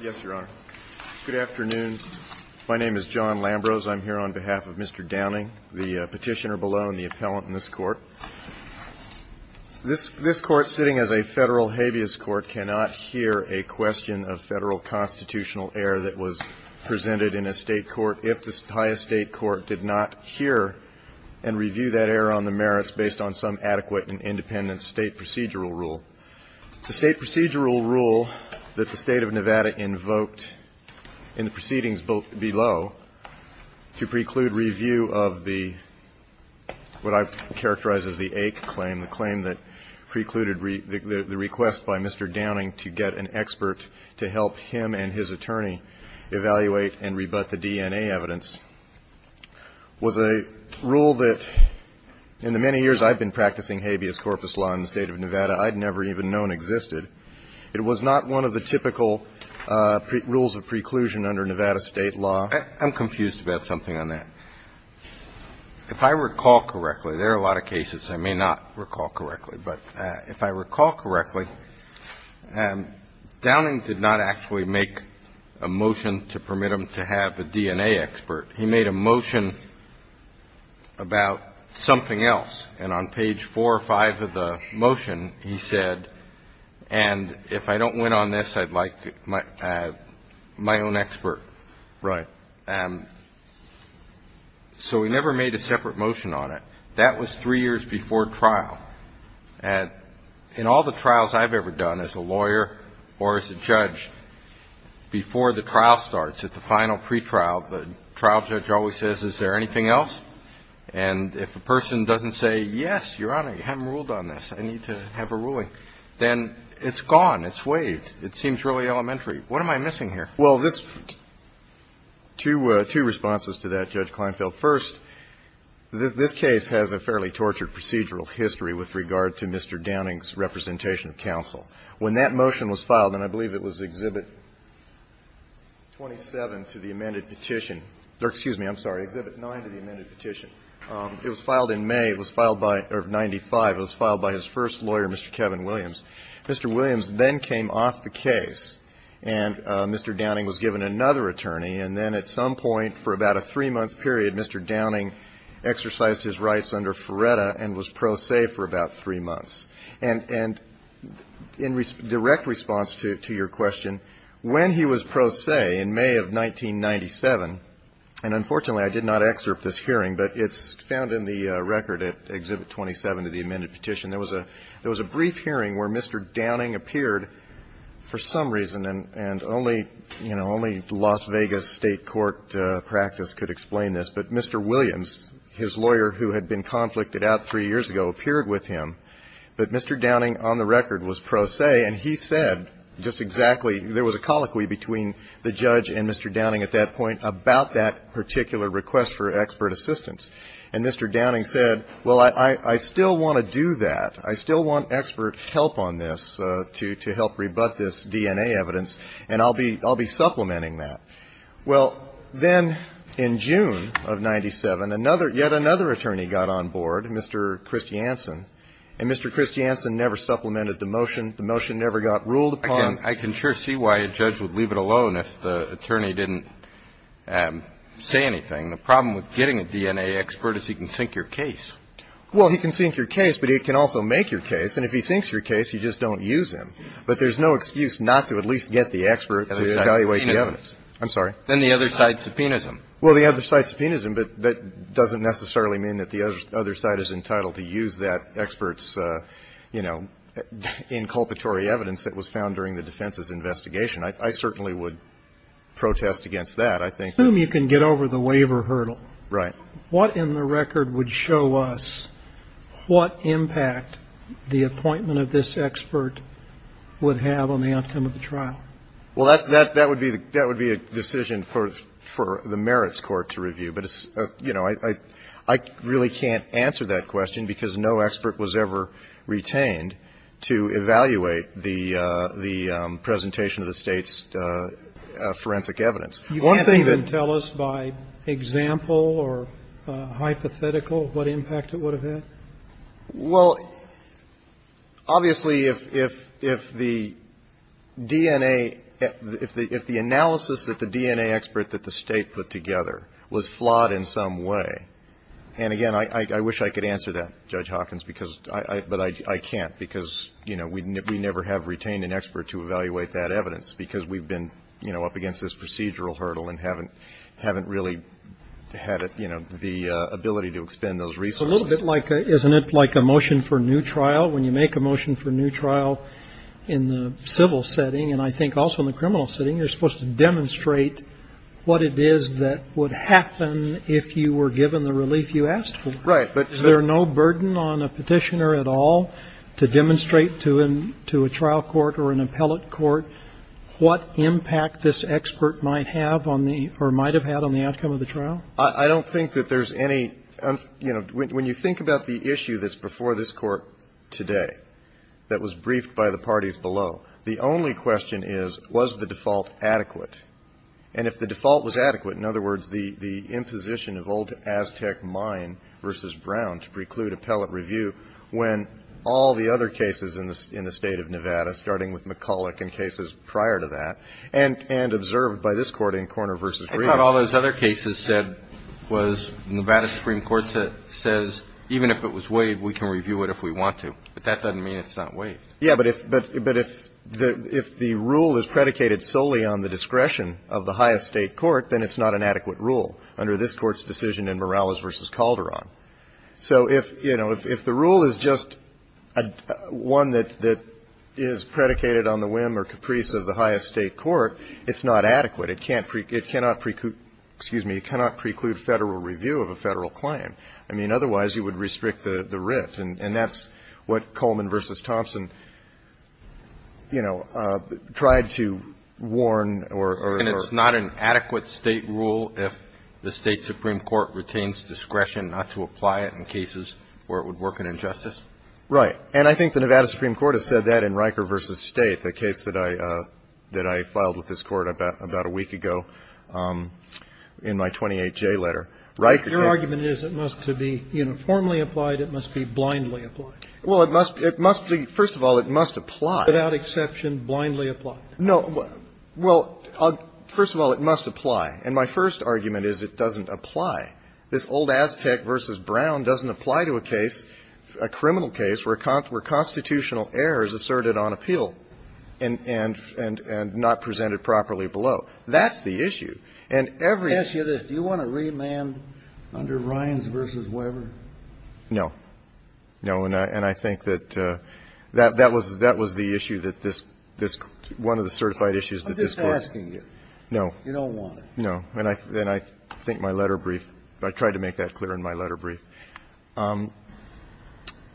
Yes, Your Honor. Good afternoon. My name is John Lambros. I'm here on behalf of Mr. Downing, the petitioner below, and the appellant in this Court. This Court, sitting as a Federal habeas court, cannot hear a question of Federal constitutional error that was presented in a State court if the highest State court did not hear and review that error on the merits based on some adequate and independent State procedural rule. The State procedural rule that the State of Nevada invoked in the proceedings below to preclude review of what I characterize as the AIC claim, the claim that precluded the request by Mr. Downing to get an expert to help him and his attorney evaluate and rebut the DNA evidence, was a rule that, in the many years I've been practicing habeas corpus law in the State of Nevada, I'd never even known existed. It was not one of the typical rules of preclusion under Nevada State law. I'm confused about something on that. If I recall correctly, there are a lot of cases I may not recall correctly, but if I recall correctly, Downing did not actually make a motion to permit him to have a DNA expert. He made a motion about something else. And on page 4 or 5 of the motion, he said, and if I don't win on this, I'd like my own expert. Right. So he never made a separate motion on it. That was three years before trial. And in all the trials I've ever done as a lawyer or as a judge, before the trial starts, at the final pretrial, the trial judge always says, is there anything else? And if a person doesn't say, yes, Your Honor, you haven't ruled on this, I need to have a ruling, then it's gone. It's waived. It seems really elementary. What am I missing here? Well, this – two responses to that, Judge Kleinfeld. So first, this case has a fairly tortured procedural history with regard to Mr. Downing's representation of counsel. When that motion was filed, and I believe it was Exhibit 27 to the amended petition – or excuse me, I'm sorry, Exhibit 9 to the amended petition. It was filed in May. It was filed by – or 95. It was filed by his first lawyer, Mr. Kevin Williams. Mr. Williams then came off the case, and Mr. Downing was given another attorney. And then at some point, for about a three-month period, Mr. Downing exercised his rights under Ferretta and was pro se for about three months. And in direct response to your question, when he was pro se in May of 1997 – and unfortunately, I did not excerpt this hearing, but it's found in the record at Exhibit 27 to the amended petition. There was a brief hearing where Mr. Downing appeared for some reason, and only, you know, only Las Vegas State court practice could explain this. But Mr. Williams, his lawyer who had been conflicted out three years ago, appeared with him. But Mr. Downing on the record was pro se, and he said just exactly – there was a colloquy between the judge and Mr. Downing at that point about that particular request for expert assistance. And Mr. Downing said, well, I still want to do that. I still want expert help on this to help rebut this DNA evidence, and I'll be supplementing that. Well, then in June of 1997, another – yet another attorney got on board, Mr. Kristiansen, and Mr. Kristiansen never supplemented the motion. The motion never got ruled upon. I can sure see why a judge would leave it alone if the attorney didn't say anything. The problem with getting a DNA expert is he can sink your case. Well, he can sink your case, but he can also make your case. And if he sinks your case, you just don't use him. But there's no excuse not to at least get the expert to evaluate the evidence. I'm sorry. Then the other side subpoenas him. Well, the other side subpoenas him, but that doesn't necessarily mean that the other side is entitled to use that expert's, you know, inculpatory evidence that was found during the defense's investigation. I certainly would protest against that. I think the – Assume you can get over the waiver hurdle. Right. What in the record would show us what impact the appointment of this expert would have on the outcome of the trial? Well, that would be a decision for the merits court to review. But, you know, I really can't answer that question because no expert was ever retained to evaluate the presentation of the State's forensic evidence. You can't even tell us by example or hypothetical what impact it would have had? Well, obviously, if the DNA – if the analysis that the DNA expert that the State put together was flawed in some way – and, again, I wish I could answer that, Judge Hawkins, because – but I can't because, you know, we never have retained an expert to evaluate that evidence because we've been, you know, up against this procedural hurdle and haven't really had, you know, the ability to expend those resources. It's a little bit like – isn't it like a motion for a new trial? When you make a motion for a new trial in the civil setting, and I think also in the criminal setting, you're supposed to demonstrate what it is that would happen if you were given the relief you asked for. Right. Is there no burden on a Petitioner at all to demonstrate to a trial court or an appellate court what impact this expert might have on the – or might have had on the outcome of the trial? I don't think that there's any – you know, when you think about the issue that's before this Court today that was briefed by the parties below, the only question is, was the default adequate? And if the default was adequate, in other words, the imposition of old Aztec mine versus Brown to preclude appellate review, when all the other cases in the State of Nevada, starting with McCulloch and cases prior to that, and observed by this Court in Korner v. Reed. I thought all those other cases said was Nevada Supreme Court says even if it was waived, we can review it if we want to. But that doesn't mean it's not waived. Yeah, but if the rule is predicated solely on the discretion of the highest State court, then it's not an adequate rule under this Court's decision in Morales v. Calderon. So if, you know, if the rule is just one that is predicated on the whim or caprice of the highest State court, it's not adequate. It cannot preclude – excuse me. It cannot preclude Federal review of a Federal claim. I mean, otherwise, you would restrict the writ. And that's what Coleman v. Thompson, you know, tried to warn or – And it's not an adequate State rule if the State supreme court retains discretion not to apply it in cases where it would work an injustice? Right. And I think the Nevada supreme court has said that in Riker v. State, the case that I filed with this Court about a week ago in my 28J letter. Your argument is it must be uniformly applied. It must be blindly applied. Well, it must be – first of all, it must apply. Without exception, blindly applied. No. Well, first of all, it must apply. And my first argument is it doesn't apply. This old Aztec v. Brown doesn't apply to a case, a criminal case, where constitutional error is asserted on appeal and not presented properly below. That's the issue. And every – The issue is, do you want to remand under Ryans v. Weber? No. No. And I think that that was the issue that this – one of the certified issues that this Court – I'm just asking you. No. You don't want it. No. And I think my letter brief – I tried to make that clear in my letter brief.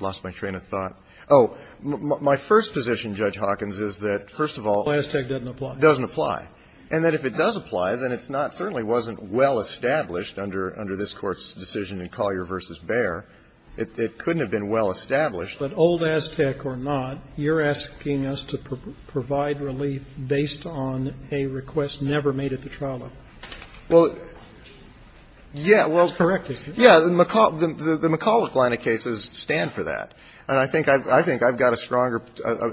Lost my train of thought. Oh. My first position, Judge Hawkins, is that, first of all – Aztec doesn't apply. Doesn't apply. And that if it does apply, then it's not – certainly wasn't well established under this Court's decision in Collier v. Baer. It couldn't have been well established. But old Aztec or not, you're asking us to provide relief based on a request never made at the trial level. Well, yeah, well – That's correct, isn't it? Yeah. The McCulloch line of cases stand for that. And I think I've got a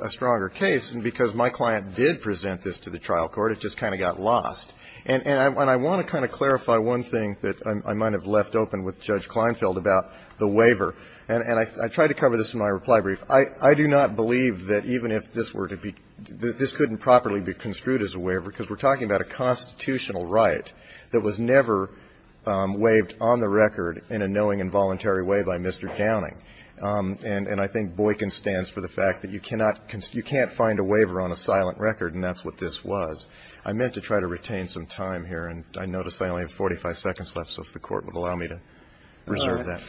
stronger case, and because my client did present this to the trial court, it just kind of got lost. And I want to kind of clarify one thing that I might have left open with Judge Kleinfeld about the waiver. And I tried to cover this in my reply brief. I do not believe that even if this were to be – that this couldn't properly be construed as a waiver, because we're talking about a constitutional right that was never waived on the record in a knowing and voluntary way by Mr. Downing. And I think Boykin stands for the fact that you cannot – you can't find a waiver on a silent record, and that's what this was. I meant to try to retain some time here, and I notice I only have 45 seconds left, so if the Court would allow me to reserve that. All right.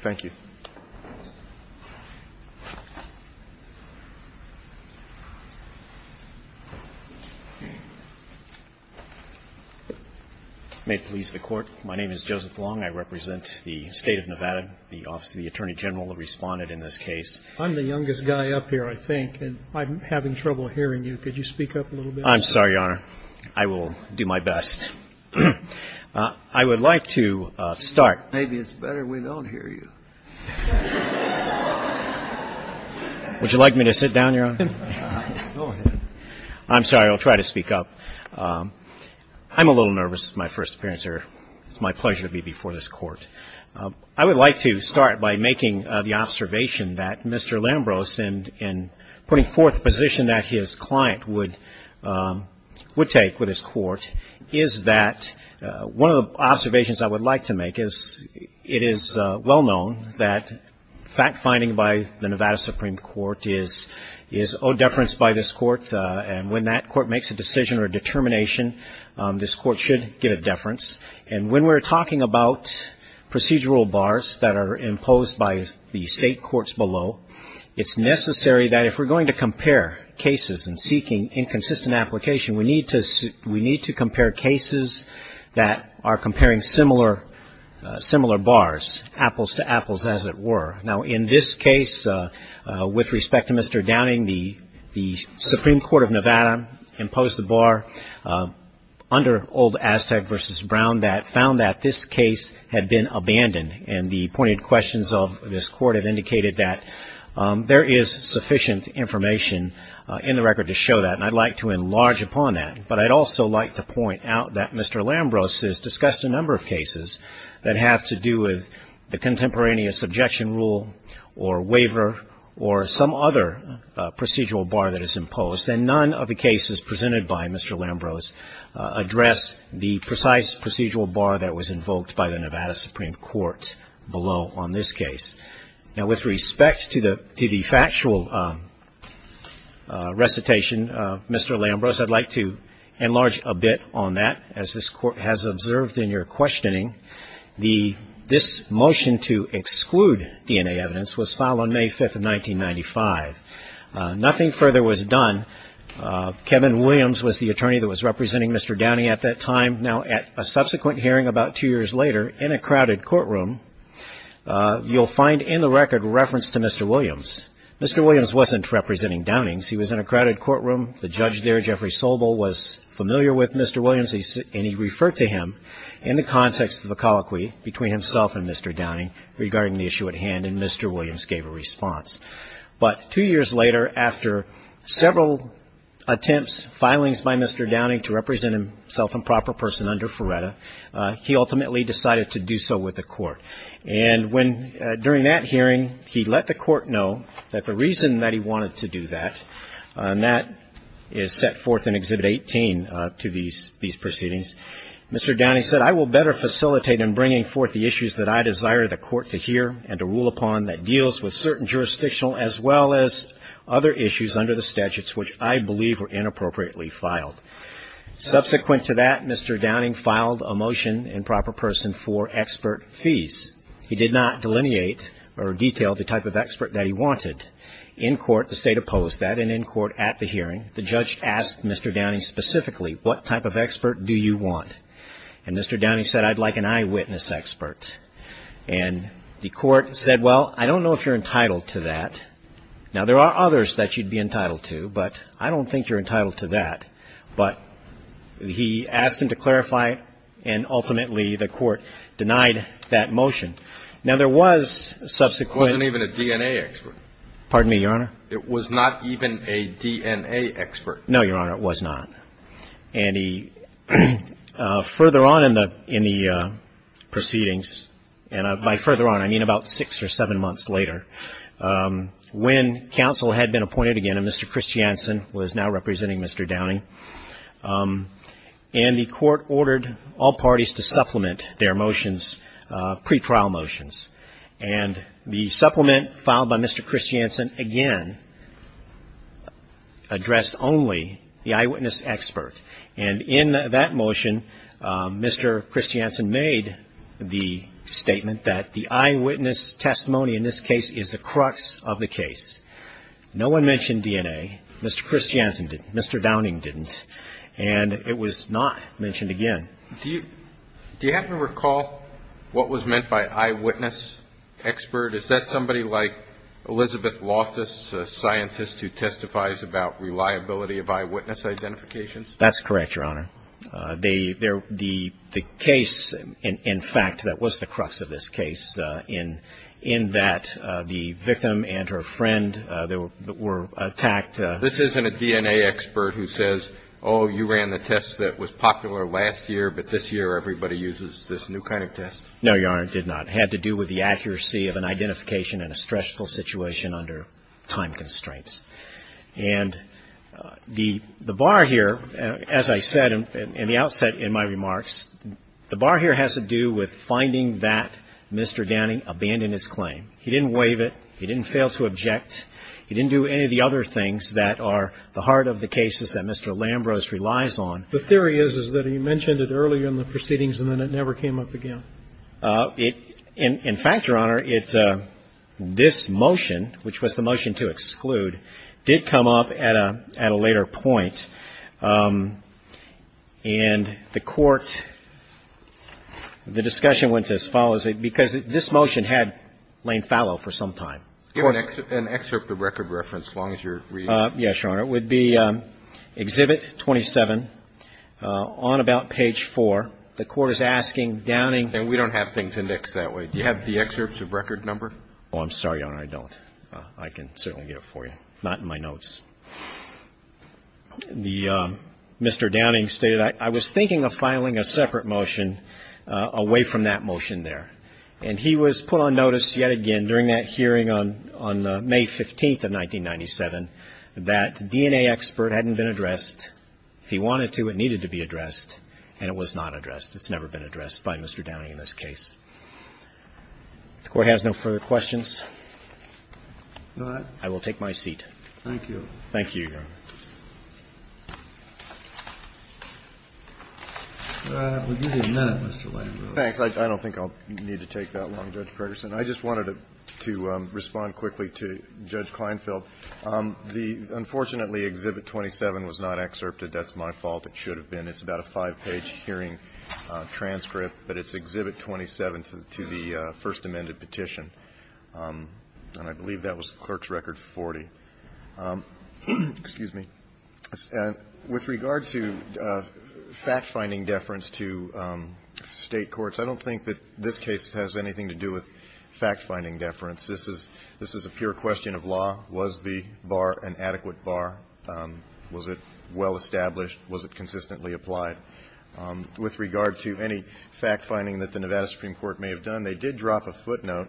Thank you. May it please the Court. My name is Joseph Long. I represent the State of Nevada. The Office of the Attorney General responded in this case. I'm the youngest guy up here, I think, and I'm having trouble hearing you. Could you speak up a little bit? I'm sorry, Your Honor. I will do my best. I would like to start. Maybe it's better we don't hear you. Would you like me to sit down, Your Honor? Go ahead. I'm sorry. I'll try to speak up. I'm a little nervous. It's my first appearance here. It's my pleasure to be before this Court. I would like to start by making the observation that Mr. Lambros, in putting forth the position that his client would take with his Court, is that one of the observations I would like to make is it is well-known that fact-finding by the Nevada Supreme Court is owed deference by this Court, and when that Court makes a decision or determination, this Court should get a deference. And when we're talking about procedural bars that are imposed by the State Courts below, it's necessary that if we're going to compare cases and seeking inconsistent application, we need to compare cases that are comparing similar bars, apples to apples, as it were. Now, in this case, with respect to Mr. Downing, the Supreme Court of Nevada imposed a bar under old Aztec v. Brown that found that this case had been abandoned, and the pointed questions of this Court have indicated that there is sufficient information in the record to show that, and I'd like to enlarge upon that. But I'd also like to point out that Mr. Lambros has discussed a number of cases that have to do with the contemporaneous objection rule or waiver or some other procedural bar that is imposed, and none of the cases presented by Mr. Lambros address the precise procedural bar that was invoked by the Nevada Supreme Court below on this case. Now, with respect to the factual recitation, Mr. Lambros, I'd like to enlarge a bit on that. As this Court has observed in your questioning, this motion to exclude DNA evidence was filed on May 5th of 1995. Nothing further was done. Kevin Williams was the attorney that was representing Mr. Downing at that time. Now, at a subsequent hearing about two years later, in a crowded courtroom, you'll find in the record reference to Mr. Williams. Mr. Williams wasn't representing Downing. He was in a crowded courtroom. The judge there, Jeffrey Sobel, was familiar with Mr. Williams, and he referred to him in the context of a colloquy between himself and Mr. Downing regarding the issue at hand, and Mr. Williams gave a response. And Mr. Downing, who was the person under Ferretta, he ultimately decided to do so with the Court. And when, during that hearing, he let the Court know that the reason that he wanted to do that, and that is set forth in Exhibit 18 to these proceedings, Mr. Downing said, I will better facilitate in bringing forth the issues that I desire the Court to hear and to rule upon that deals with certain jurisdictional as well as other issues under the statutes which I believe were inappropriately filed. Mr. Downing filed a motion in proper person for expert fees. He did not delineate or detail the type of expert that he wanted. In court, the State opposed that, and in court at the hearing, the judge asked Mr. Downing specifically, what type of expert do you want? And Mr. Downing said, I'd like an eyewitness expert. And the Court said, well, I don't know if you're entitled to that. Now, there are others that you'd be entitled to, but I don't think you're entitled to that. But he asked him to clarify, and ultimately, the Court denied that motion. Now, there was subsequent ---- It wasn't even a DNA expert. Pardon me, Your Honor? It was not even a DNA expert. No, Your Honor, it was not. And he, further on in the proceedings, and by further on, I mean about six or seven months later, he said, I'd like an eyewitness when counsel had been appointed again, and Mr. Christiansen was now representing Mr. Downing. And the Court ordered all parties to supplement their motions, pretrial motions. And the supplement filed by Mr. Christiansen again addressed only the eyewitness expert. And in that motion, Mr. Christiansen made the statement that the eyewitness testimony in this case is the crux of the case. No one mentioned DNA. Mr. Christiansen didn't. Mr. Downing didn't. And it was not mentioned again. Do you happen to recall what was meant by eyewitness expert? Is that somebody like Elizabeth Loftus, a scientist who testifies about reliability of eyewitness identifications? That's correct, Your Honor. The case, in fact, that was the crux of this case, in that the victim and her friend were attacked. This isn't a DNA expert who says, oh, you ran the test that was popular last year, but this year everybody uses this new kind of test. No, Your Honor, it did not. It had to do with the accuracy of an identification in a stressful situation under time constraints. And the bar here, as I said in the outset in my remarks, the bar here has to do with finding that Mr. Downing abandoned his claim. He didn't waive it. He didn't fail to object. He didn't do any of the other things that are the heart of the cases that Mr. Lambros relies on. The theory is, is that he mentioned it earlier in the proceedings and then it never came up again. In fact, Your Honor, this motion, which was the motion to exclude, did come up at a later point. And the court, the discussion went as follows, because this motion had Lane fallow for some time. An excerpt of record reference, as long as you're reading. Yes, Your Honor. It would be Exhibit 27 on about page 4. The court is asking Downing. And we don't have things indexed that way. Do you have the excerpts of record number? Oh, I'm sorry, Your Honor, I don't. I can certainly get it for you. Not in my notes. The Mr. Downing stated, I was thinking of filing a separate motion away from that motion there. And he was put on notice yet again during that hearing on May 15th of 1997 that DNA expert hadn't been addressed. If he wanted to, it needed to be addressed, and it was not addressed. It's never been addressed by Mr. Downing in this case. If the Court has no further questions, I will take my seat. Thank you. Thank you, Your Honor. We'll give you a minute, Mr. Lane. Thanks. I don't think I'll need to take that long, Judge Pertterson. I just wanted to respond quickly to Judge Kleinfeld. Unfortunately, Exhibit 27 was not excerpted. That's my fault. It should have been. It's about a five-page hearing transcript, but it's Exhibit 27 to the first amended petition. And I believe that was the clerk's record 40. Excuse me. With regard to fact-finding deference to State courts, I don't think that this case has anything to do with fact-finding deference. This is a pure question of law. Was the bar an adequate bar? Was it well-established? Was it consistently applied? With regard to any fact-finding that the Nevada Supreme Court may have done, they did drop a footnote,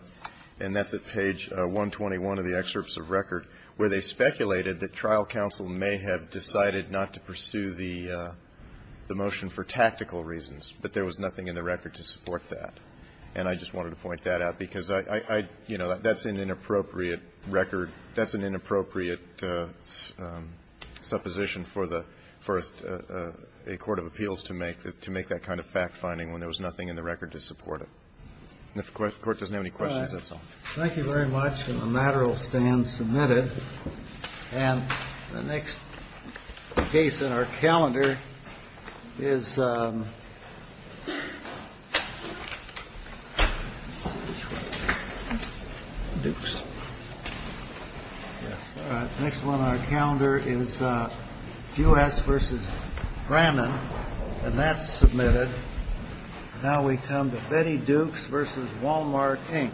and that's at page 121 of the excerpts of record, where they speculated that trial counsel may have decided not to pursue the motion for tactical reasons, but there was nothing in the record to support that. And I just wanted to point that out, because I — you know, that's an inappropriate record. That's an inappropriate supposition for the — for a court of appeals to make, to make that kind of fact-finding when there was nothing in the record to support it. If the Court doesn't have any questions, that's all. Thank you very much. And the matter will stand submitted. And the next case in our calendar is Dukes. All right. Next one on our calendar is Juhasz versus Brannon. And that's submitted. Now we come to Betty Dukes versus Walmart, Inc. Thank you.